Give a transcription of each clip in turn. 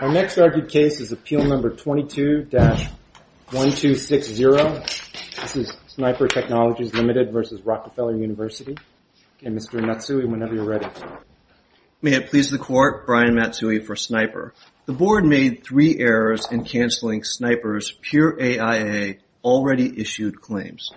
Our next argued case is Appeal No. 22-1260. This is SNIPR Technologies Limited v. Rockefeller University. Okay, Mr. Matsui, whenever you're ready. May it please the Court, Brian Matsui for SNIPR. The Board made three errors in canceling SNIPR's pure AIA already issued claims.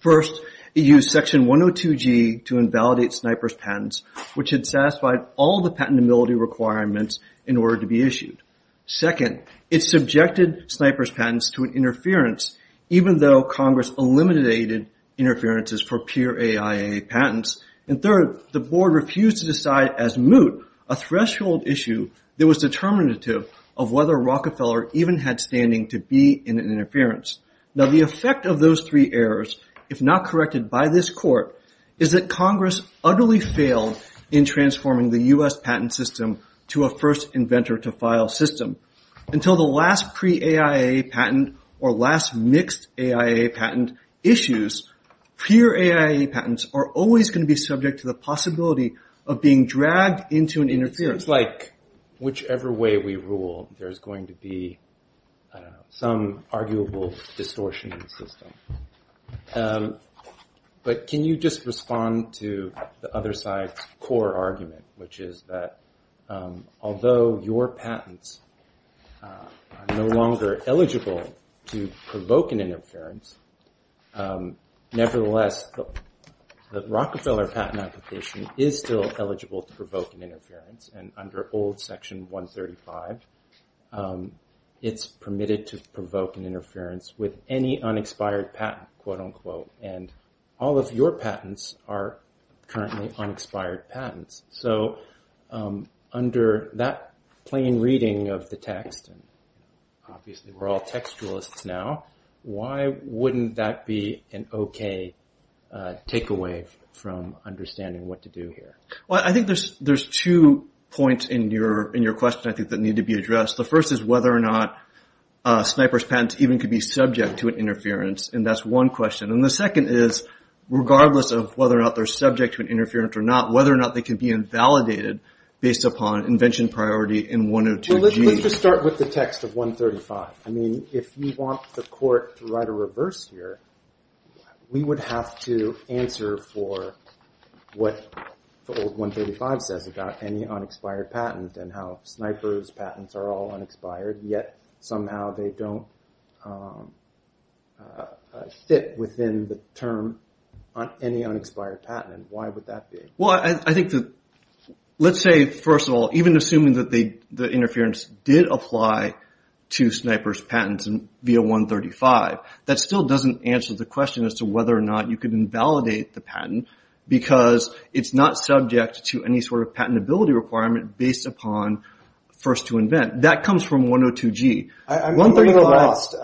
First, it used Section 102G to invalidate SNIPR's patents, which had satisfied all the patentability requirements in order to be issued. Second, it subjected SNIPR's patents to an interference, even though Congress eliminated interferences for pure AIA patents. And third, the Board refused to decide as moot a threshold issue that was determinative of whether Rockefeller even had standing to be in an interference. Now, the effect of those three errors, if not corrected by this Court, is that Congress utterly failed in transforming the U.S. patent system to a first-inventor-to-file system. Until the last pre-AIA patent or last mixed-AIA patent issues, pure AIA patents are always going to be subject to the possibility of being dragged into an interference. It seems like whichever way we rule, there's going to be some arguable distortion in the system. But can you just respond to the other side's core argument, which is that although your patents are no longer eligible to provoke an interference, nevertheless, the Rockefeller patent application is still eligible to provoke an interference, and under old Section 135, it's permitted to provoke an interference with any unexpired patent, and all of your patents are currently unexpired patents. So under that plain reading of the text, and obviously we're all textualists now, why wouldn't that be an okay takeaway from understanding what to do here? Well, I think there's two points in your question I think that need to be addressed. The first is whether or not a sniper's patent even could be subject to an interference, and that's one question. And the second is, regardless of whether or not they're subject to an interference or not, whether or not they can be invalidated based upon invention priority in 102G. Well, let's just start with the text of 135. I mean, if you want the court to write a reverse here, we would have to answer for what the old 135 says about any unexpired patent and how sniper's patents are all unexpired, yet somehow they don't fit within the term on any unexpired patent. Why would that be? Well, I think that let's say, first of all, even assuming that the interference did apply to sniper's patents via 135, that still doesn't answer the question as to whether or not you can invalidate the patent because it's not subject to any sort of patentability requirement based upon first to invent. That comes from 102G. I'm very lost.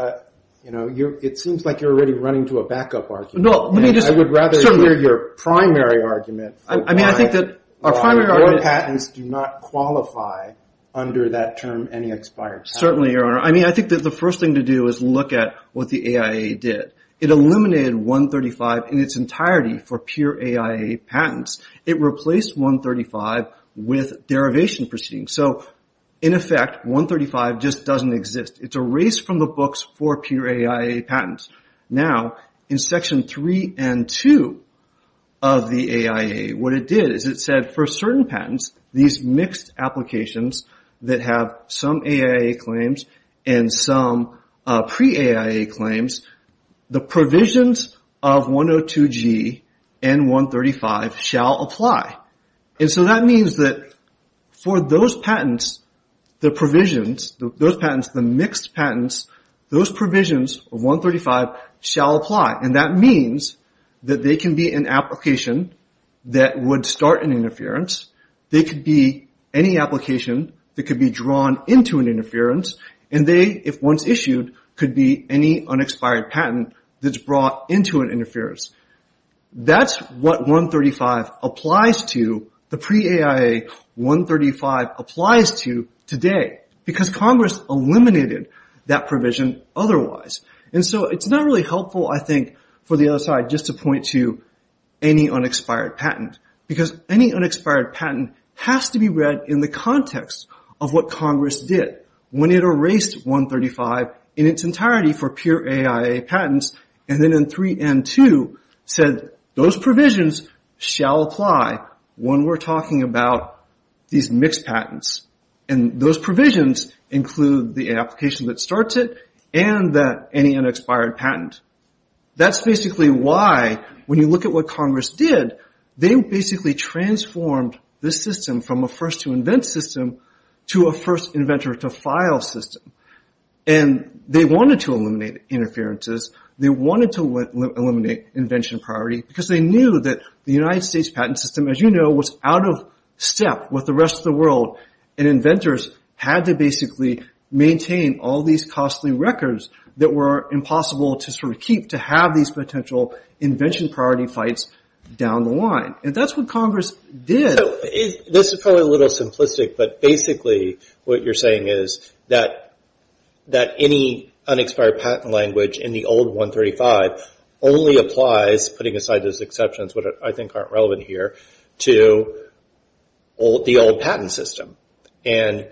It seems like you're already running to a backup argument. I would rather hear your primary argument for why your patents do not qualify under that term, any expired patent. Certainly, Your Honor. I mean, I think that the first thing to do is look at what the AIA did. It eliminated 135 in its entirety for pure AIA patents. It replaced 135 with derivation proceedings. So, in effect, 135 just doesn't exist. It's erased from the books for pure AIA patents. Now, in Section 3 and 2 of the AIA, what it did is it said for certain patents, these mixed applications that have some AIA claims and some pre-AIA claims, the provisions of 102G and 135 shall apply. And so that means that for those patents, the provisions, those patents, the mixed patents, those provisions of 135 shall apply. And that means that they can be an application that would start an interference. They could be any application that could be drawn into an interference. And they, if once issued, could be any unexpired patent that's brought into an interference. That's what 135 applies to, the pre-AIA 135 applies to today, because Congress eliminated that provision otherwise. And so it's not really helpful, I think, for the other side just to point to any unexpired patent, because any unexpired patent has to be read in the context of what Congress did when it erased 135 in its entirety for pure AIA patents. And then in 3N2 said those provisions shall apply when we're talking about these mixed patents. And those provisions include the application that starts it and any unexpired patent. That's basically why, when you look at what Congress did, they basically transformed this system from a first-to-invent system to a first-inventor-to-file system. And they wanted to eliminate interferences. They wanted to eliminate invention priority, because they knew that the United States patent system, as you know, was out of step with the rest of the world. And inventors had to basically maintain all these costly records that were impossible to sort of keep to have these potential invention priority fights down the line. And that's what Congress did. So this is probably a little simplistic, but basically what you're saying is that any unexpired patent language in the old 135 only applies, putting aside those exceptions that I think aren't relevant here, to the old patent system. And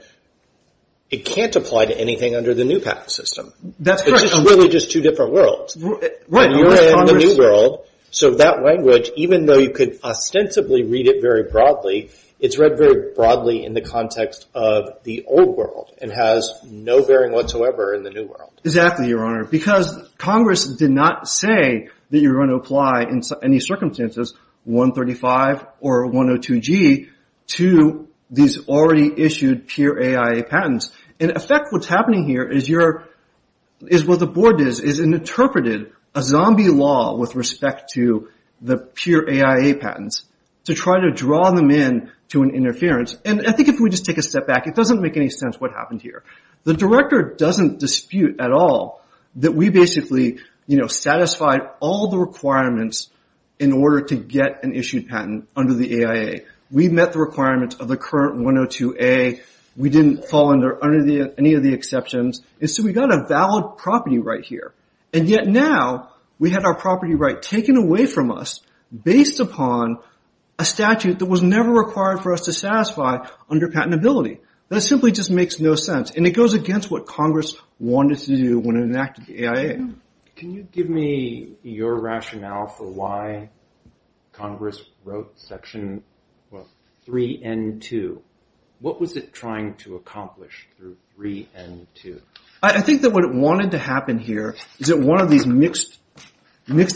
it can't apply to anything under the new patent system. That's right. It's really just two different worlds. Right. You're in the new world, so that language, even though you could ostensibly read it very broadly, it's read very broadly in the context of the old world and has no bearing whatsoever in the new world. Exactly, Your Honor. Because Congress did not say that you were going to apply in any circumstances 135 or 102G to these already-issued pure AIA patents. In effect, what's happening here is what the board did is interpreted a zombie law with respect to the pure AIA patents to try to draw them in to an interference. And I think if we just take a step back, it doesn't make any sense what happened here. The Director doesn't dispute at all that we basically satisfied all the requirements in order to get an issued patent under the AIA. We met the requirements of the current 102A. We didn't fall under any of the exceptions. And so we got a valid property right here. And yet now we had our property right taken away from us based upon a statute that was never required for us to satisfy under patentability. That simply just makes no sense. And it goes against what Congress wanted to do when it enacted the AIA. Can you give me your rationale for why Congress wrote Section 3N2? What was it trying to accomplish through 3N2? I think that what it wanted to happen here is that one of these mixed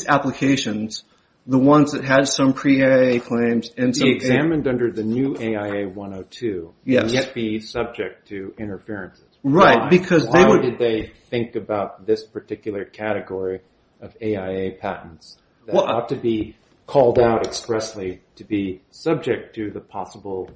applications, the ones that had some pre-AIA claims and some… Be examined under the new AIA 102 and yet be subject to interferences. Right, because they would… Why did they think about this particular category of AIA patents that ought to be called out expressly to be subject to the possible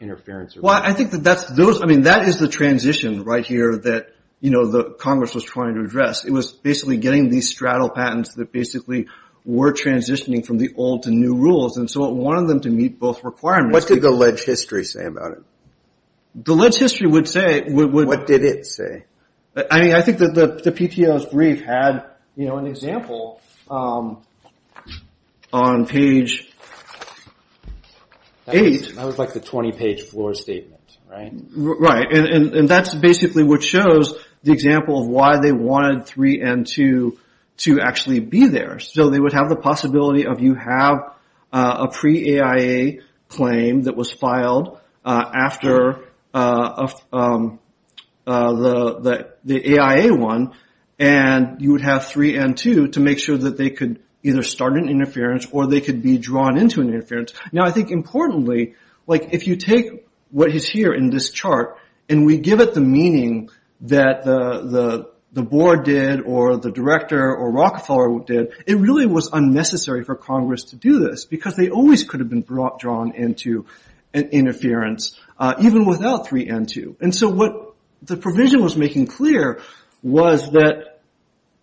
interference? Well, I think that is the transition right here that Congress was trying to address. It was basically getting these straddle patents that basically were transitioning from the old to new rules. And so it wanted them to meet both requirements. What did the ledge history say about it? The ledge history would say… What did it say? I think that the PTO's brief had an example on page 8. That was like the 20-page floor statement, right? Right, and that's basically what shows the example of why they wanted 3N2 to actually be there. So they would have the possibility of you have a pre-AIA claim that was filed after the AIA one and you would have 3N2 to make sure that they could either start an interference or they could be drawn into an interference. Now, I think importantly, like if you take what is here in this chart and we give it the meaning that the board did or the director or Rockefeller did, it really was unnecessary for Congress to do this because they always could have been drawn into an interference, even without 3N2. And so what the provision was making clear was that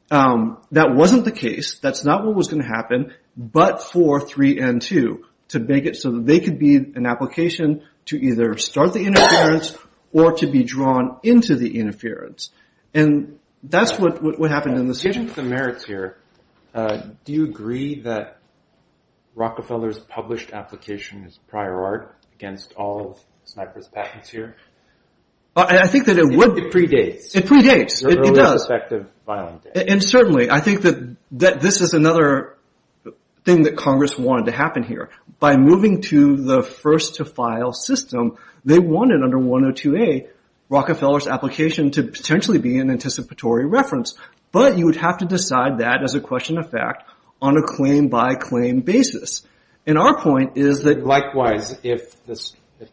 that wasn't the case, that's not what was going to happen, but for 3N2 to make it so that they could be an application to either start the interference or to be drawn into the interference. And that's what happened in this case. Given the merits here, do you agree that Rockefeller's published application is prior art against all of Sniper's patents here? I think that it would… It predates. It predates. It does. And certainly I think that this is another thing that Congress wanted to happen here. By moving to the first-to-file system, they wanted under 102A Rockefeller's application to potentially be an anticipatory reference, but you would have to decide that as a question of fact on a claim-by-claim basis. And our point is that… Likewise, if the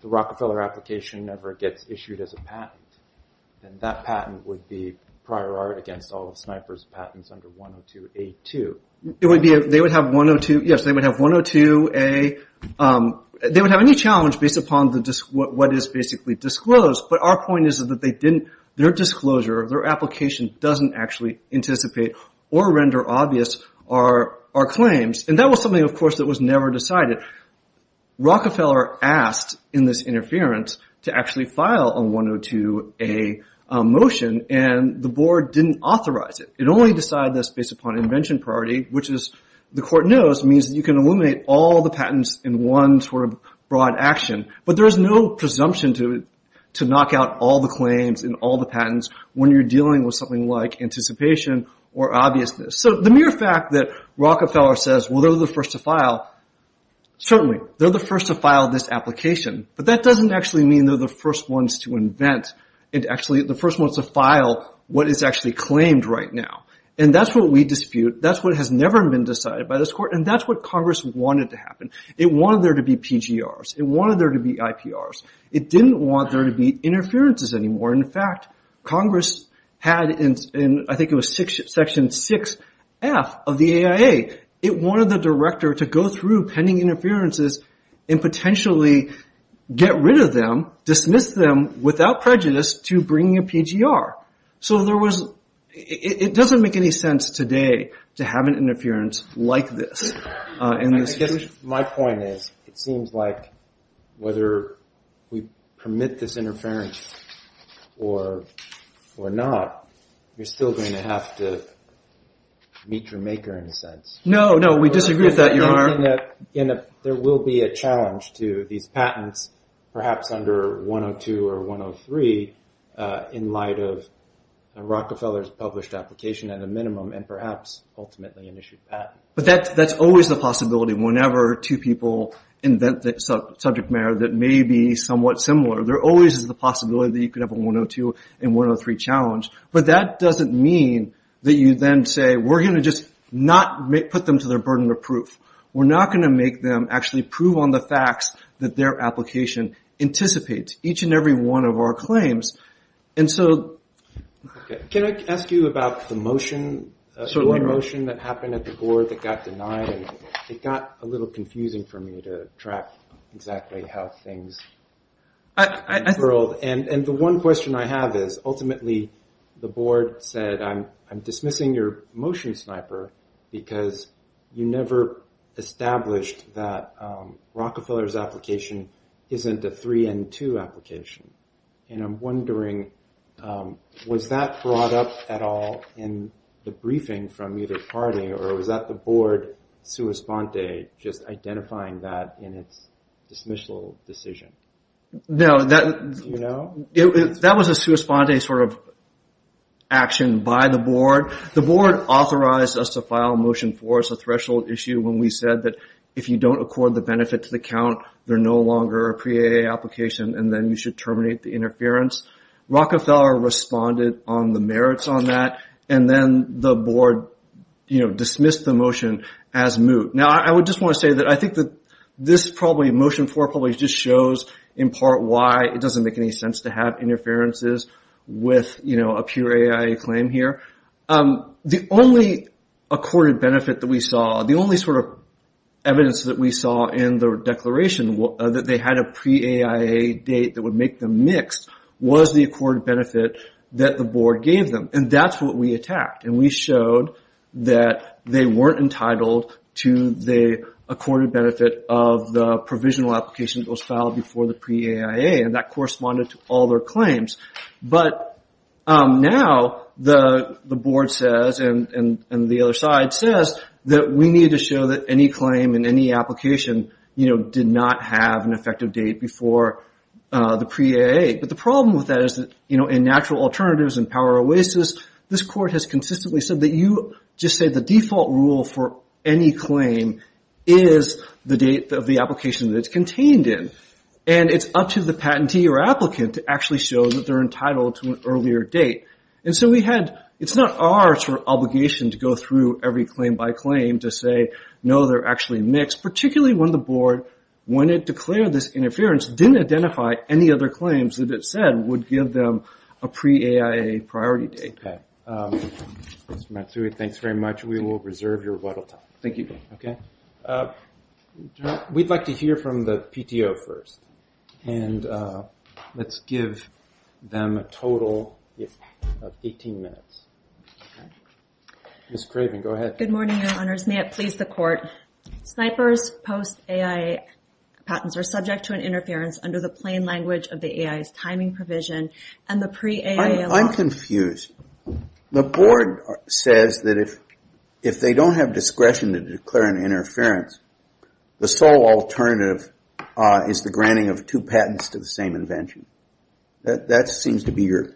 Rockefeller application ever gets issued as a patent, then that patent would be prior art against all of Sniper's patents under 102A2. It would be… They would have 102… Yes, they would have 102A… They would have any challenge based upon what is basically disclosed, but our point is that they didn't… Their disclosure, their application doesn't actually anticipate or render obvious our claims. And that was something, of course, that was never decided. Rockefeller asked in this interference to actually file a 102A motion, and the board didn't authorize it. It only decided this based upon invention priority, which the court knows means that you can eliminate all the patents in one sort of broad action. But there is no presumption to knock out all the claims and all the patents when you're dealing with something like anticipation or obviousness. So the mere fact that Rockefeller says, well, they're the first to file, certainly, they're the first to file this application, but that doesn't actually mean they're the first ones to invent and actually the first ones to file what is actually claimed right now. And that's what we dispute. That's what has never been decided by this court, and that's what Congress wanted to happen. It wanted there to be PGRs. It wanted there to be IPRs. It didn't want there to be interferences anymore. In fact, Congress had in I think it was Section 6F of the AIA, it wanted the director to go through pending interferences and potentially get rid of them, dismiss them without prejudice to bringing a PGR. So it doesn't make any sense today to have an interference like this. My point is it seems like whether we permit this interference or not, you're still going to have to meet your maker in a sense. No, no, we disagree with that, Your Honor. There will be a challenge to these patents, perhaps under 102 or 103, in light of Rockefeller's published application at a minimum and perhaps ultimately an issued patent. But that's always the possibility whenever two people invent subject matter that may be somewhat similar. There always is the possibility that you could have a 102 and 103 challenge. But that doesn't mean that you then say we're going to just not put them to their burden of proof. We're not going to make them actually prove on the facts that their application anticipates, each and every one of our claims. Can I ask you about the motion that happened at the board that got denied? It got a little confusing for me to track exactly how things curled. The one question I have is ultimately the board said I'm dismissing your motion sniper because you never established that Rockefeller's application isn't a 3N2 application. And I'm wondering, was that brought up at all in the briefing from either party or was that the board sua sponte, just identifying that in its dismissal decision? No, that was a sua sponte sort of action by the board. The board authorized us to file a motion for us, a threshold issue, when we said that if you don't accord the benefit to the count, they're no longer a pre-AAA application and then you should terminate the interference. Rockefeller responded on the merits on that, and then the board dismissed the motion as moot. Now, I would just want to say that I think that this probably motion 4 probably just shows in part why it doesn't make any sense to have interferences with a pure AIA claim here. The only accorded benefit that we saw, the only sort of evidence that we saw in the declaration, that they had a pre-AIA date that would make them mixed, was the accorded benefit that the board gave them. And that's what we attacked, and we showed that they weren't entitled to the accorded benefit of the provisional application that was filed before the pre-AIA, and that corresponded to all their claims. But now the board says, and the other side says, that we need to show that any claim and any application did not have an effective date before the pre-AAA. But the problem with that is that in natural alternatives and power oasis, this court has consistently said that you just say the default rule for any claim is the date of the application that it's contained in, and it's up to the patentee or applicant to actually show that they're entitled to an earlier date. And so we had, it's not our sort of obligation to go through every claim by claim to say, no, they're actually mixed, particularly when the board, when it declared this interference, didn't identify any other claims that it said would give them a pre-AIA priority date. Okay. Mr. Matsui, thanks very much. We will reserve your vital time. Thank you. We'd like to hear from the PTO first, and let's give them a total of 18 minutes. Ms. Craven, go ahead. Good morning, Your Honors. May it please the Court. Snipers post-AIA patents are subject to an interference under the plain language of the AIA's timing provision and the pre-AIA law. I'm confused. The board says that if they don't have discretion to declare an interference, the sole alternative is the granting of two patents to the same invention. That seems to be your...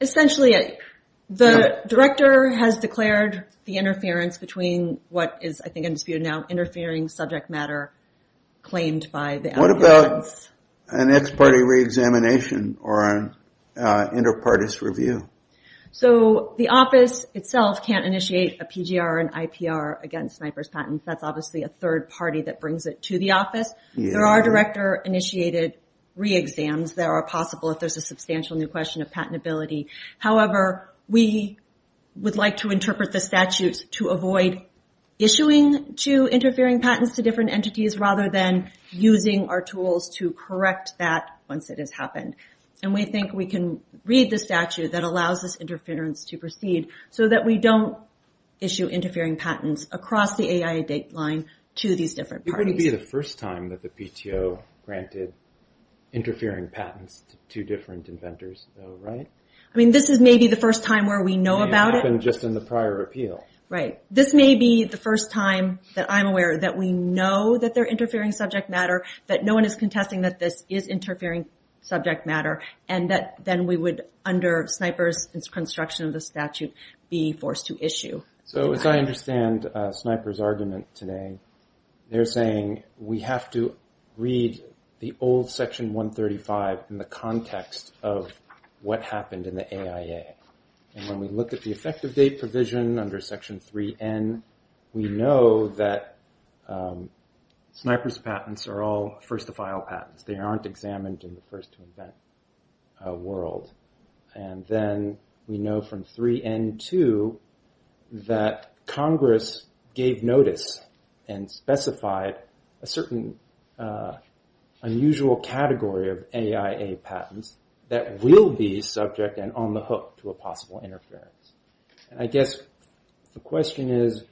Essentially, the director has declared the interference between what is, I think, in dispute now, interfering subject matter claimed by the applicants. What about an ex-party re-examination or an inter-partis review? So, the office itself can't initiate a PGR and IPR against snipers' patents. That's obviously a third party that brings it to the office. There are director-initiated re-exams that are possible if there's a substantial new question of patentability. However, we would like to interpret the statutes to avoid issuing two interfering patents to different entities rather than using our tools to correct that once it has happened. And we think we can read the statute that allows this interference to proceed so that we don't issue interfering patents across the AIA dateline to these different parties. It wouldn't be the first time that the PTO granted interfering patents to two different inventors, though, right? I mean, this is maybe the first time where we know about it. It may have happened just in the prior appeal. Right. This may be the first time that I'm aware that we know that they're interfering subject matter, that no one is contesting that this is interfering subject matter, and that then we would, under snipers' construction of the statute, be forced to issue. So, as I understand snipers' argument today, they're saying we have to read the old Section 135 in the context of what happened in the AIA. And when we look at the effective date provision under Section 3N, we know that snipers' patents are all first-of-file patents. They aren't examined in the first-to-invent world. And then we know from 3N2 that Congress gave notice and specified a certain unusual category of AIA patents that will be subject and on the hook to a possible interference. And I guess the question is,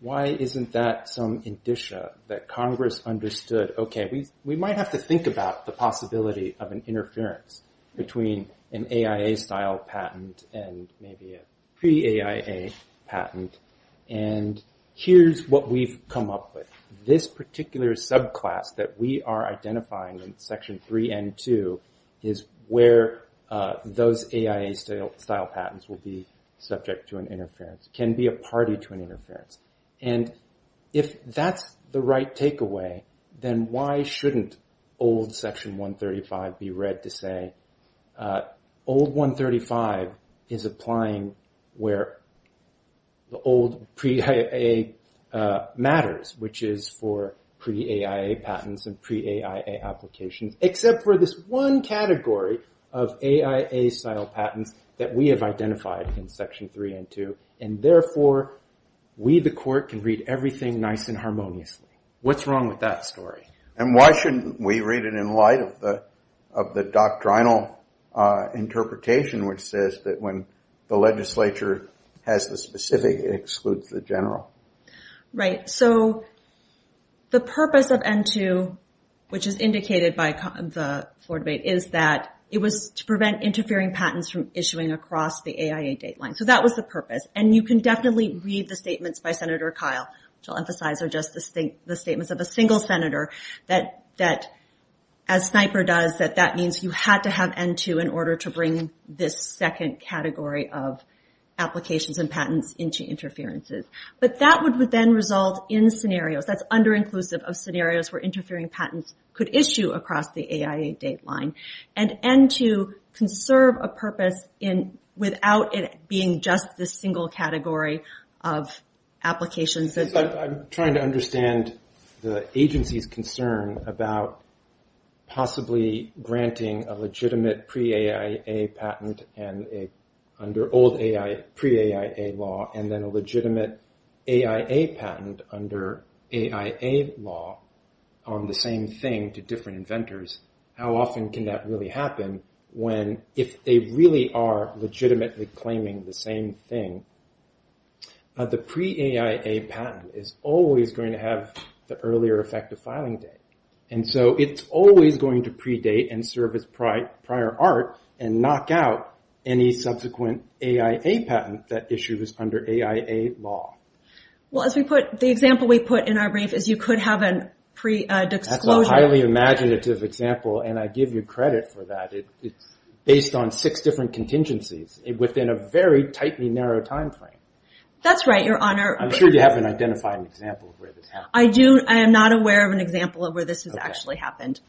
why isn't that some indicia that Congress understood, okay, we might have to think about the possibility of an interference between an AIA-style patent and maybe a pre-AIA patent. And here's what we've come up with. This particular subclass that we are identifying in Section 3N2 is where those AIA-style patents will be subject to an interference, can be a party to an interference. And if that's the right takeaway, then why shouldn't old Section 135 be read to say, old 135 is applying where the old pre-AIA matters, which is for pre-AIA patents and pre-AIA applications, except for this one category of AIA-style patents that we have identified in Section 3N2. And therefore, we, the Court, can read everything nice and harmoniously. What's wrong with that story? And why shouldn't we read it in light of the doctrinal interpretation, which says that when the legislature has the specific, it excludes the general. Right. So the purpose of N2, which is indicated by the floor debate, is that it was to prevent interfering patents from issuing across the AIA dateline. So that was the purpose. And you can definitely read the statements by Senator Kyle, which I'll emphasize are just the statements of a single senator, that as Sniper does, that that means you had to have N2 in order to bring this second category of applications and patents into interferences. But that would then result in scenarios. That's under-inclusive of scenarios where interfering patents could issue across the AIA dateline. And N2 can serve a purpose without it being just this single category of applications. I'm trying to understand the agency's concern about possibly granting a legitimate pre-AIA patent under old pre-AIA law, and then a legitimate AIA patent under AIA law on the same thing to different inventors. How often can that really happen when, if they really are legitimately claiming the same thing, the pre-AIA patent is always going to have the earlier effective filing date. And so it's always going to predate and serve as prior art and knock out any subsequent AIA patent that issues under AIA law. Well, as we put, the example we put in our brief is you could have a pre-declosure. It's a highly imaginative example, and I give you credit for that. It's based on six different contingencies within a very tightly narrow time frame. That's right, Your Honor. I'm sure you haven't identified an example of where this happened. I am not aware of an example of where this has actually happened.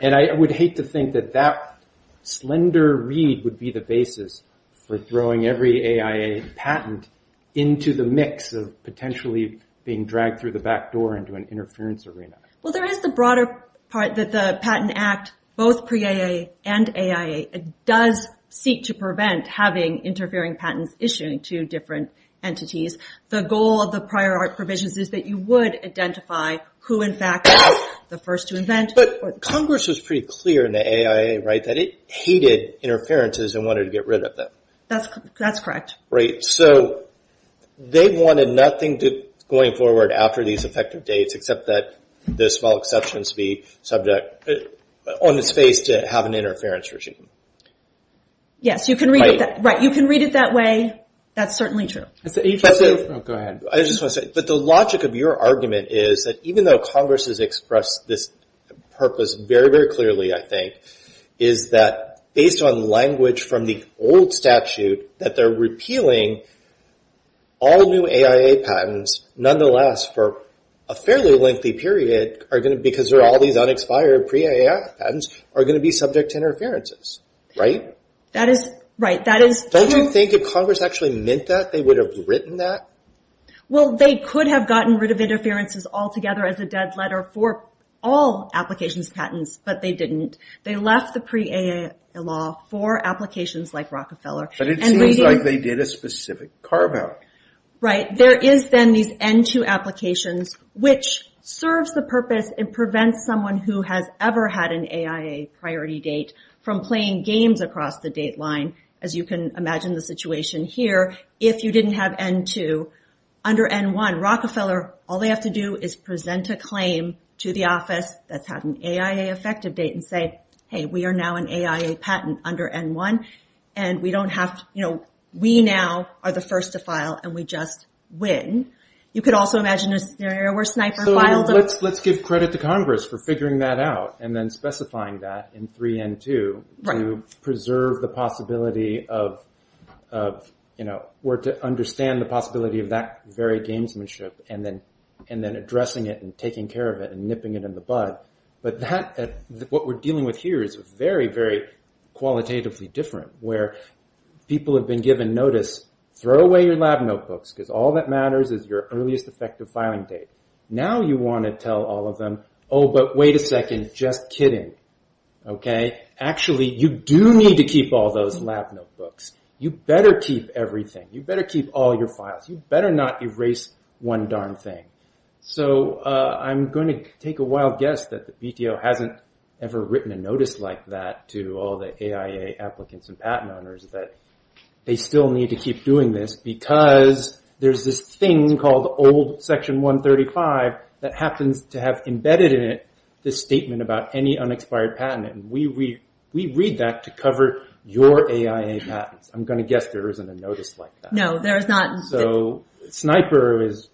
And I would hate to think that that slender read would be the basis for throwing every AIA patent into the mix of potentially being dragged through the back door into an interference arena. Well, there is the broader part that the Patent Act, both pre-AIA and AIA, does seek to prevent having interfering patents issued to different entities. The goal of the prior art provisions is that you would identify who, in fact, is the first to invent. But Congress was pretty clear in the AIA, right, that it hated interferences and wanted to get rid of them. That's correct. Right. So they wanted nothing going forward after these effective dates, except that the small exceptions be subject on its face to have an interference regime. Yes, you can read it that way. That's certainly true. Go ahead. I just want to say, but the logic of your argument is that even though Congress has expressed this purpose very, very clearly, I think, is that based on language from the old statute, that they're repealing all new AIA patents, nonetheless, for a fairly lengthy period, because they're all these unexpired pre-AIA patents, are going to be subject to interferences. Right? That is right. Don't you think if Congress actually meant that, they would have written that? Well, they could have gotten rid of interferences altogether as a dead letter for all applications of patents, but they didn't. They left the pre-AIA law for applications like Rockefeller. But it seems like they did a specific carve-out. Right. There is, then, these N2 applications, which serves the purpose and prevents someone who has ever had an AIA priority date from playing games across the date line, as you can imagine the situation here, if you didn't have N2. Under N1, Rockefeller, all they have to do is present a claim to the office that's had an AIA effective date and say, hey, we are now an AIA patent under N1, and we don't have to, you know, we now are the first to file, and we just win. You could also imagine a scenario where Sniper filed a- So let's give credit to Congress for figuring that out and then specifying that in 3N2- Right. were to understand the possibility of that very gamesmanship, and then addressing it and taking care of it and nipping it in the bud. But what we're dealing with here is very, very qualitatively different, where people have been given notice, throw away your lab notebooks, because all that matters is your earliest effective filing date. Now you want to tell all of them, oh, but wait a second, just kidding. Okay? Actually, you do need to keep all those lab notebooks. You better keep everything. You better keep all your files. You better not erase one darn thing. So I'm going to take a wild guess that the BTO hasn't ever written a notice like that to all the AIA applicants and patent owners, that they still need to keep doing this, because there's this thing called old Section 135 that happens to have embedded in it this statement about any unexpired patent. And we read that to cover your AIA patents. I'm going to guess there isn't a notice like that. No, there is not. So SNIPER is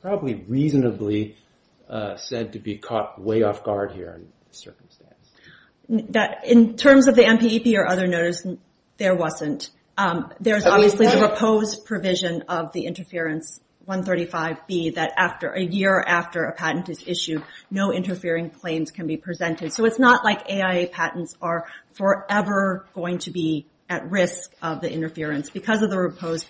probably reasonably said to be caught way off guard here in this circumstance. In terms of the MPEP or other notice, there wasn't. There's obviously the proposed provision of the Interference 135B, that a year after a patent is issued, no interfering claims can be presented. So it's not like AIA patents are forever going to be at risk of the interference. Because of the proposed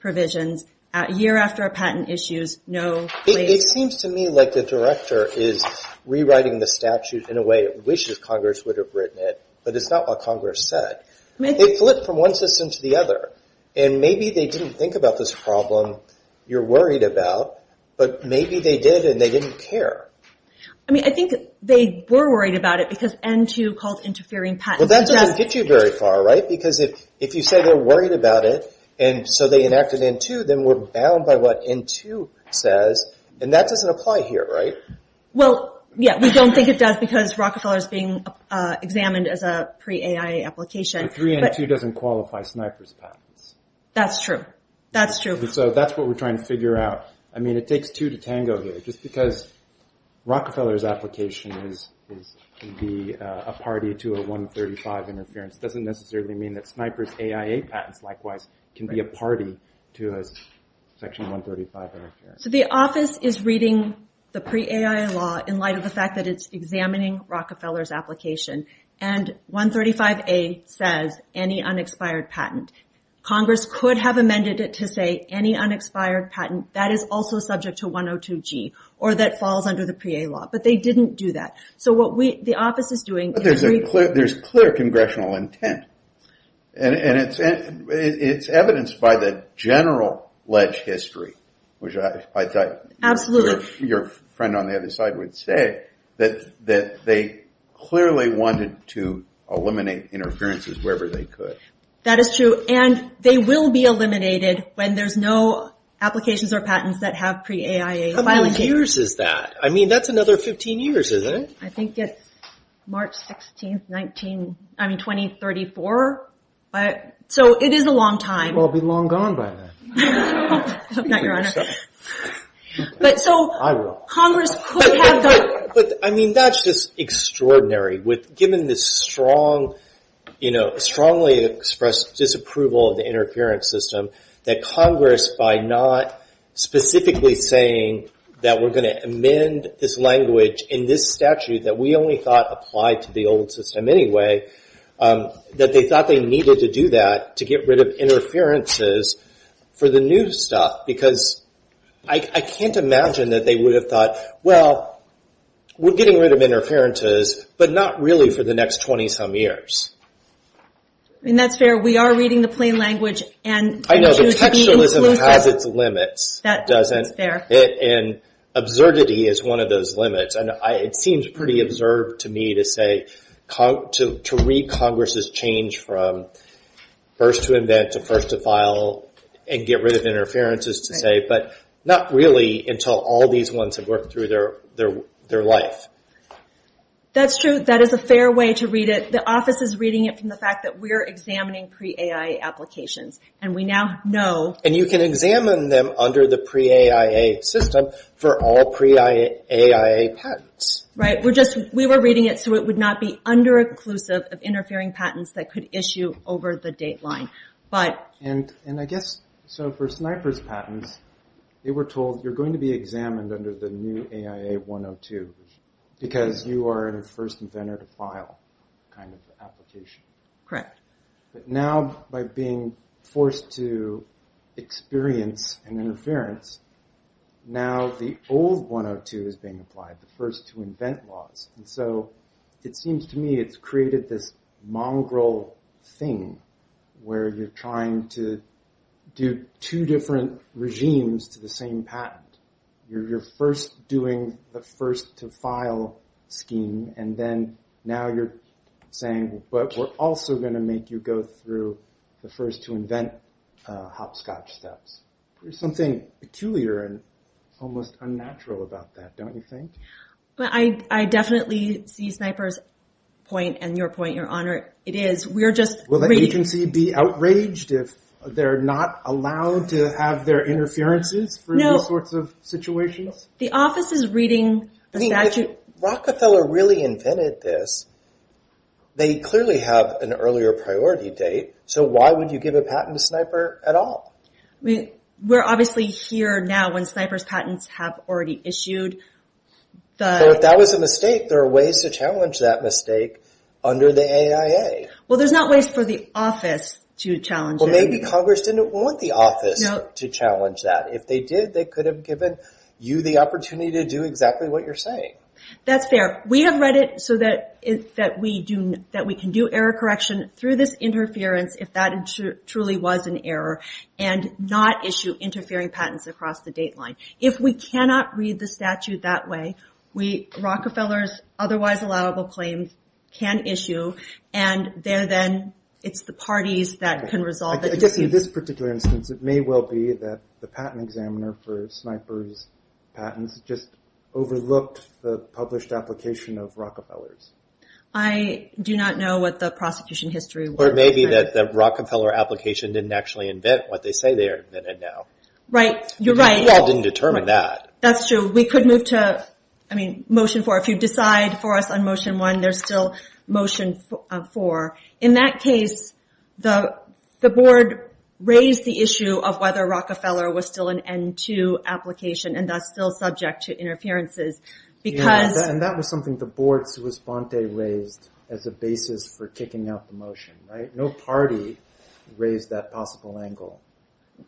provisions, a year after a patent issues, no claims... It seems to me like the director is rewriting the statute in a way, wishes Congress would have written it, but it's not what Congress said. They flipped from one system to the other. And maybe they didn't think about this problem you're worried about, but maybe they did and they didn't care. I mean, I think they were worried about it, because N2 called interfering patents. Well, that doesn't get you very far, right? Because if you say they're worried about it, and so they enacted N2, then we're bound by what N2 says, and that doesn't apply here, right? Well, yeah, we don't think it does, because Rockefeller is being examined as a pre-AIA application. The 3N2 doesn't qualify Sniper's patents. That's true. That's true. So that's what we're trying to figure out. I mean, it takes two to tango here, just because Rockefeller's application can be a party to a 135 interference doesn't necessarily mean that Sniper's AIA patents, likewise, can be a party to a Section 135 interference. So the office is reading the pre-AIA law in light of the fact that it's examining Rockefeller's application, and 135A says any unexpired patent. Congress could have amended it to say any unexpired patent that is also subject to 102G, or that falls under the pre-A law, but they didn't do that. So what the office is doing is... But there's clear congressional intent, and it's evidenced by the general ledge history, which I thought your friend on the other side would say, that they clearly wanted to eliminate interferences wherever they could. That is true. And they will be eliminated when there's no applications or patents that have pre-AIA. How many years is that? I mean, that's another 15 years, isn't it? I think it's March 16, 2034. So it is a long time. We'll be long gone by then. I hope not, Your Honor. I will. But, I mean, that's just extraordinary. Given this strongly expressed disapproval of the interference system, that Congress, by not specifically saying that we're going to amend this language in this statute that we only thought applied to the old system anyway, that they thought they needed to do that to get rid of interferences for the new stuff. Because I can't imagine that they would have thought, well, we're getting rid of interferences, but not really for the next 20-some years. I mean, that's fair. We are reading the plain language. I know, but textualism has its limits. That's fair. And absurdity is one of those limits. It seems pretty absurd to me to say, to read Congress' change from first to invent to first to file and get rid of interferences to say, but not really until all these ones have worked through their life. That's true. That is a fair way to read it. The office is reading it from the fact that we're examining pre-AIA applications. And we now know. And you can examine them under the pre-AIA system for all pre-AIA patents. Right. We were reading it so it would not be under-inclusive of interfering patents that could issue over the date line. And I guess, so for Sniper's patents, they were told you're going to be examined under the new AIA 102 because you are the first inventor to file kind of application. Correct. But now by being forced to experience an interference, now the old 102 is being applied, the first to invent laws. And so it seems to me it's created this mongrel thing where you're trying to do two different regimes to the same patent. You're first doing the first to file scheme and then now you're saying, but we're also going to make you go through the first to invent hopscotch steps. There's something peculiar and almost unnatural about that, don't you think? I definitely see Sniper's point and your point, Your Honor. It is. We're just reading. Will the agency be outraged if they're not allowed to have their interferences for these sorts of situations? The office is reading the statute. I mean, if Rockefeller really invented this, they clearly have an earlier priority date. So why would you give a patent to Sniper at all? We're obviously here now when Sniper's patents have already issued. So if that was a mistake, there are ways to challenge that mistake under the AIA. Well, there's not ways for the office to challenge it. Well, maybe Congress didn't want the office to challenge that. If they did, they could have given you the opportunity to do exactly what you're saying. That's fair. We have read it so that we can do error correction through this interference if that truly was an error. And not issue interfering patents across the date line. If we cannot read the statute that way, Rockefeller's otherwise allowable claims can issue. And there then, it's the parties that can resolve it. I guess in this particular instance, it may well be that the patent examiner for Sniper's patents just overlooked the published application of Rockefeller's. I do not know what the prosecution history was. It may be that the Rockefeller application didn't actually invent what they say they invented now. You're right. Well, it didn't determine that. That's true. We could move to Motion 4. If you decide for us on Motion 1, there's still Motion 4. In that case, the board raised the issue of whether Rockefeller was still an N2 application and thus still subject to interferences. And that was something the board's response raised as a basis for kicking out the motion. No party raised that possible angle.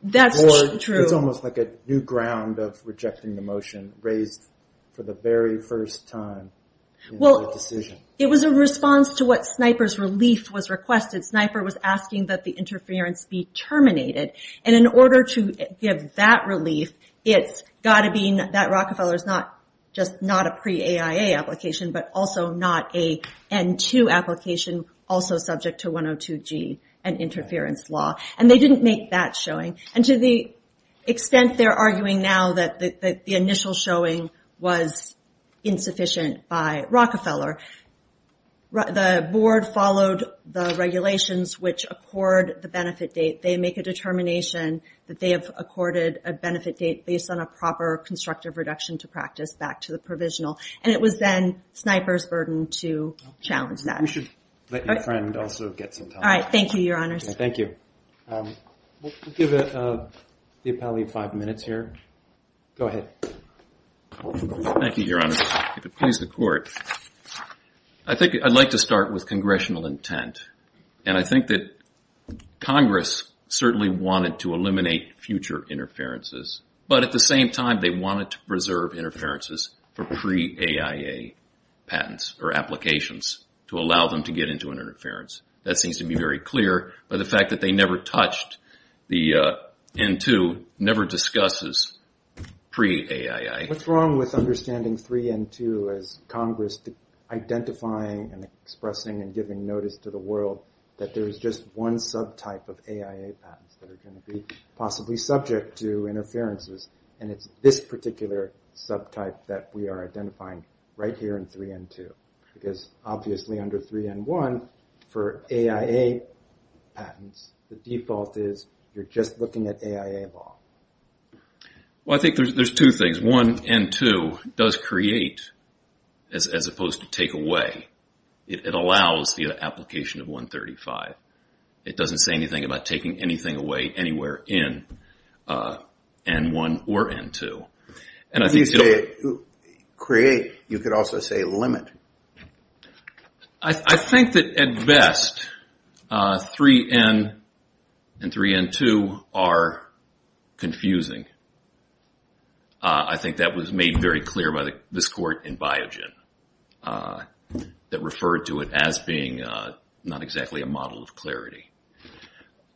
That's true. It's almost like a new ground of rejecting the motion raised for the very first time in the decision. It was a response to what Sniper's relief was requested. Sniper was asking that the interference be terminated. And in order to give that relief, it's got to be that Rockefeller's not just not a pre-AIA application, but also not a N2 application also subject to 102G, an interference law. And they didn't make that showing. And to the extent they're arguing now that the initial showing was insufficient by Rockefeller, the board followed the regulations which accord the benefit date. They make a determination that they have accorded a benefit date based on a proper constructive reduction to practice back to the provisional. And it was then Sniper's burden to challenge that. We should let your friend also get some time. All right. Thank you, Your Honors. Thank you. We'll give the appellee five minutes here. Go ahead. Thank you, Your Honors. If it pleases the Court, I'd like to start with congressional intent. And I think that Congress certainly wanted to eliminate future interferences. But at the same time, they wanted to preserve interferences for pre-AIA patents or applications to allow them to get into an interference. That seems to be very clear. But the fact that they never touched the N2 never discusses pre-AIA. What's wrong with understanding 3N2 as Congress identifying and expressing and giving notice to the world that there is just one subtype of AIA patents that are going to be possibly subject to interferences, and it's this particular subtype that we are identifying right here in 3N2? Because obviously under 3N1, for AIA patents, the default is you're just looking at AIA law. Well, I think there's two things. 1N2 does create as opposed to take away. It allows the application of 135. It doesn't say anything about taking anything away anywhere in N1 or N2. If you say create, you could also say limit. I think that at best 3N and 3N2 are confusing. I think that was made very clear by this court in Biogen that referred to it as being not exactly a model of clarity.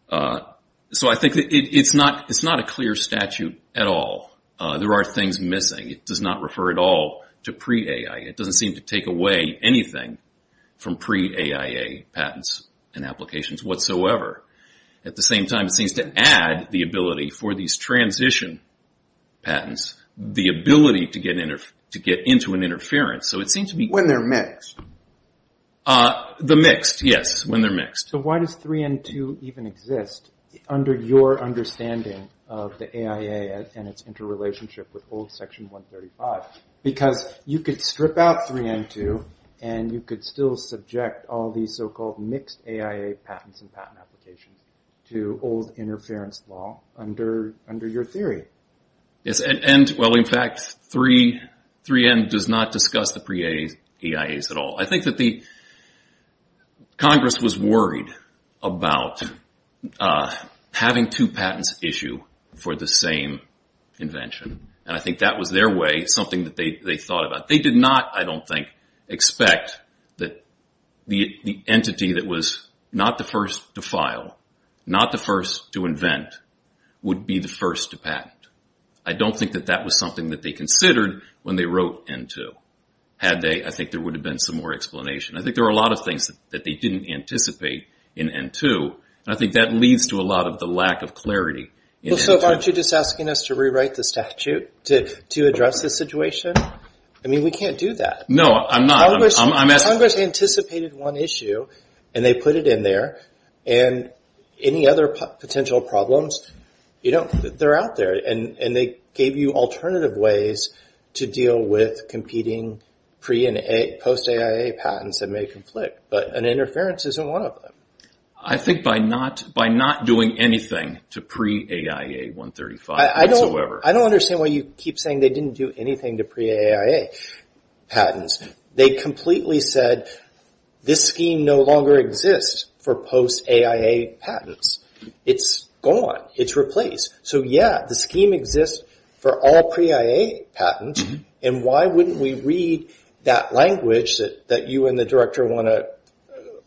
So I think it's not a clear statute at all. There are things missing. It does not refer at all to pre-AIA. It doesn't seem to take away anything from pre-AIA patents and applications whatsoever. At the same time, it seems to add the ability for these transition patents, the ability to get into an interference. When they're mixed? The mixed, yes, when they're mixed. So why does 3N2 even exist under your understanding of the AIA and its interrelationship with old Section 135? Because you could strip out 3N2, and you could still subject all these so-called mixed AIA patents and patent applications to old interference law under your theory. Well, in fact, 3N does not discuss the pre-AIAs at all. I think that Congress was worried about having two patents issue for the same invention, and I think that was their way, something that they thought about. They did not, I don't think, expect that the entity that was not the first to file, not the first to invent, would be the first to patent. I don't think that that was something that they considered when they wrote N2. I think there would have been some more explanation. I think there are a lot of things that they didn't anticipate in N2, and I think that leads to a lot of the lack of clarity. Well, so aren't you just asking us to rewrite the statute to address this situation? I mean, we can't do that. No, I'm not. Congress anticipated one issue, and they put it in there, and any other potential problems, they're out there, and they gave you alternative ways to deal with competing pre- and post-AIA patents that may conflict, but an interference isn't one of them. I think by not doing anything to pre-AIA 135 whatsoever. I don't understand why you keep saying they didn't do anything to pre-AIA patents. They completely said this scheme no longer exists for post-AIA patents. It's gone. It's replaced. So, yeah, the scheme exists for all pre-AIA patents, and why wouldn't we read that language that you and the director want to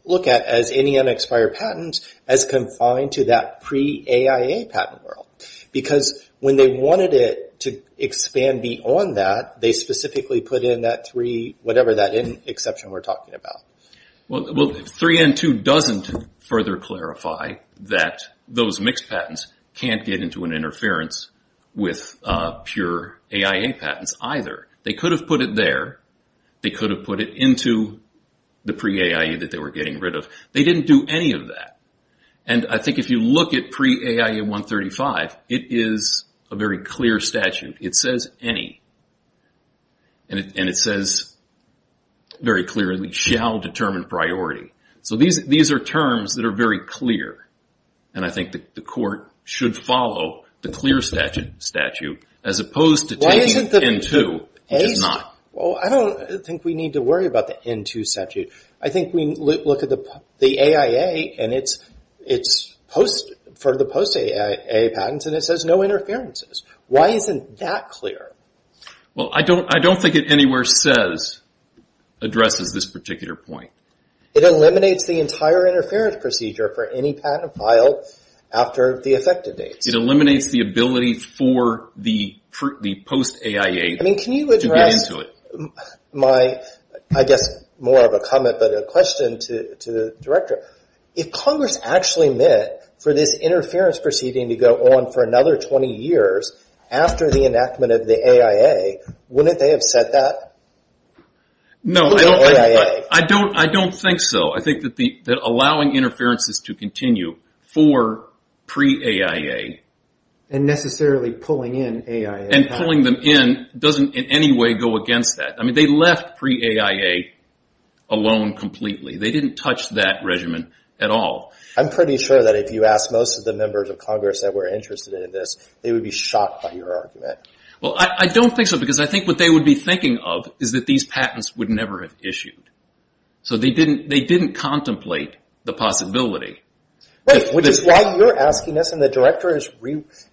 look at as any unexpired patent as confined to that pre-AIA patent world? Because when they wanted it to expand beyond that, they specifically put in that three-whatever-that-in exception we're talking about. Well, 3N2 doesn't further clarify that those mixed patents can't get into an interference with pure AIA patents either. They could have put it there. They could have put it into the pre-AIA that they were getting rid of. They didn't do any of that, and I think if you look at pre-AIA 135, it is a very clear statute. It says any, and it says very clearly, shall determine priority. So these are terms that are very clear, and I think the court should follow the clear statute as opposed to taking 3N2. It does not. Well, I don't think we need to worry about the N2 statute. I think we look at the AIA for the post-AIA patents, and it says no interferences. Why isn't that clear? Well, I don't think it anywhere says addresses this particular point. It eliminates the entire interference procedure for any patent filed after the effective date. It eliminates the ability for the post-AIA. I mean, can you address my, I guess, more of a comment but a question to the Director. If Congress actually meant for this interference proceeding to go on for another 20 years after the enactment of the AIA, wouldn't they have said that? No, I don't think so. I think that allowing interferences to continue for pre-AIA. And necessarily pulling in AIA. And pulling them in doesn't in any way go against that. I mean, they left pre-AIA alone completely. They didn't touch that regimen at all. I'm pretty sure that if you asked most of the members of Congress that were interested in this, they would be shocked by your argument. Well, I don't think so because I think what they would be thinking of is that these patents would never have issued. So they didn't contemplate the possibility. Right, which is why you're asking us and the Director is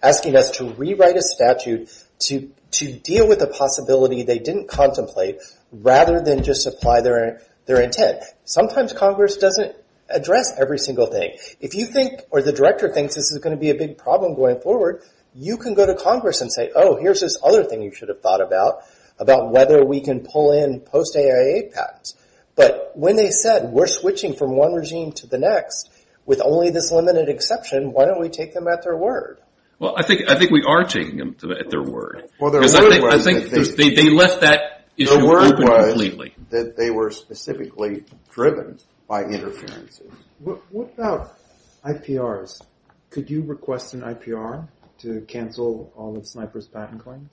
asking us to rewrite a statute to deal with the possibility they didn't contemplate rather than just apply their intent. Sometimes Congress doesn't address every single thing. If you think or the Director thinks this is going to be a big problem going forward, you can go to Congress and say, oh, here's this other thing you should have thought about, about whether we can pull in post-AIA patents. But when they said we're switching from one regime to the next with only this limited exception, why don't we take them at their word? Well, I think we are taking them at their word. Because I think they left that issue open completely. The word was that they were specifically driven by interferences. What about IPRs? Could you request an IPR to cancel all of Sniper's patent claims?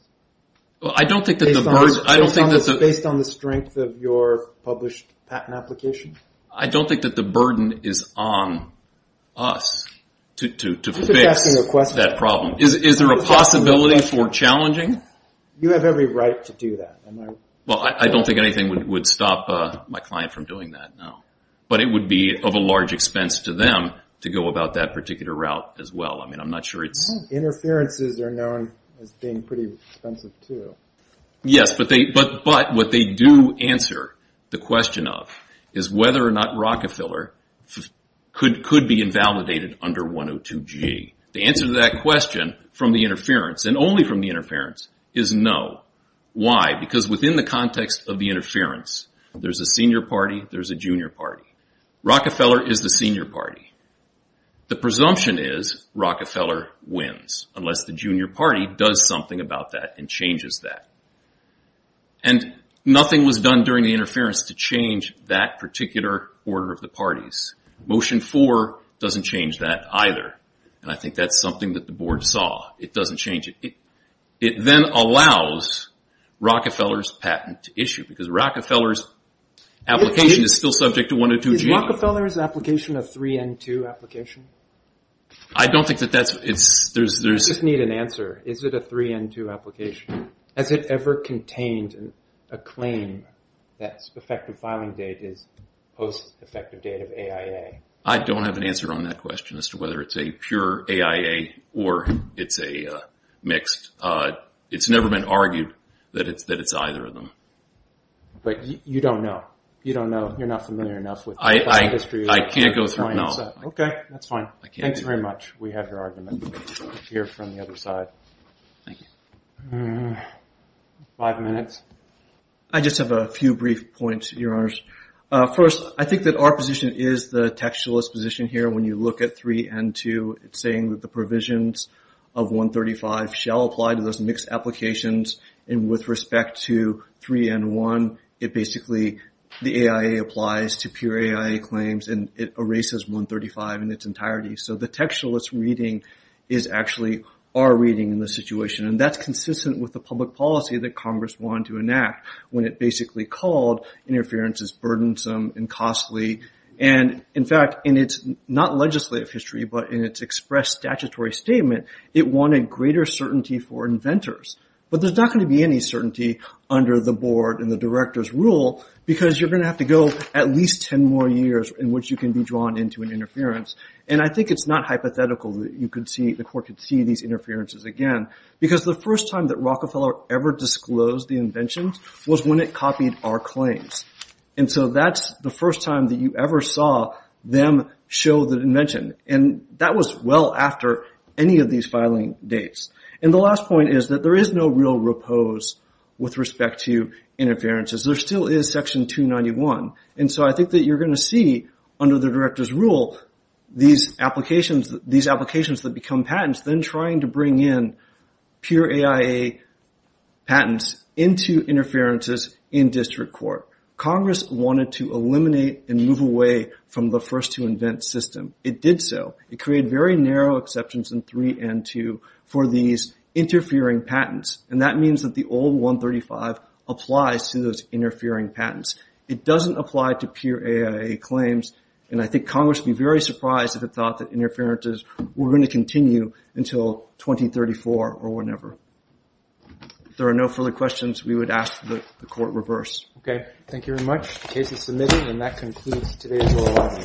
Based on the strength of your published patent application? I don't think that the burden is on us to fix that problem. Is there a possibility for challenging? You have every right to do that. Well, I don't think anything would stop my client from doing that, no. But it would be of a large expense to them to go about that particular route as well. I think interferences are known as being pretty expensive, too. Yes, but what they do answer the question of is whether or not Rockefeller could be invalidated under 102G. The answer to that question from the interference, and only from the interference, is no. Why? Because within the context of the interference, there's a senior party, there's a junior party. Rockefeller is the senior party. The presumption is Rockefeller wins, unless the junior party does something about that and changes that. And nothing was done during the interference to change that particular order of the parties. Motion 4 doesn't change that either, and I think that's something that the board saw. It doesn't change it. It then allows Rockefeller's patent to issue, because Rockefeller's application is still subject to 102G. Is Rockefeller's application a 3N2 application? I don't think that that's... I just need an answer. Is it a 3N2 application? Has it ever contained a claim that effective filing date is post-effective date of AIA? I don't have an answer on that question as to whether it's a pure AIA or it's a mixed. It's never been argued that it's either of them. But you don't know. You don't know. You're not familiar enough. I can't go through, no. Okay, that's fine. Thanks very much. We have your argument here from the other side. Thank you. Five minutes. I just have a few brief points, Your Honors. First, I think that our position is the textualist position here when you look at 3N2. It's saying that the provisions of 135 shall apply to those mixed applications. And with respect to 3N1, it basically... The AIA applies to pure AIA claims, and it erases 135 in its entirety. So the textualist reading is actually our reading in this situation. And that's consistent with the public policy that Congress wanted to enact when it basically called interference as burdensome and costly. And, in fact, in its not legislative history, but in its expressed statutory statement, it wanted greater certainty for inventors. But there's not going to be any certainty under the board and the director's rule because you're going to have to go at least 10 more years in which you can be drawn into an interference. And I think it's not hypothetical that the court could see these interferences again because the first time that Rockefeller ever disclosed the inventions was when it copied our claims. And so that's the first time that you ever saw them show the invention. And that was well after any of these filing dates. And the last point is that there is no real repose with respect to interferences. There still is Section 291. And so I think that you're going to see, under the director's rule, these applications that become patents then trying to bring in pure AIA patents into interferences in district court. Congress wanted to eliminate and move away from the first-to-invent system. It did so. It created very narrow exceptions in 3 and 2 for these interfering patents. And that means that the old 135 applies to those interfering patents. It doesn't apply to pure AIA claims. And I think Congress would be very surprised if it thought that interferences were going to continue until 2034 or whenever. If there are no further questions, we would ask that the Court reverse. Okay. Thank you very much. The case is submitted, and that concludes today's oral argument.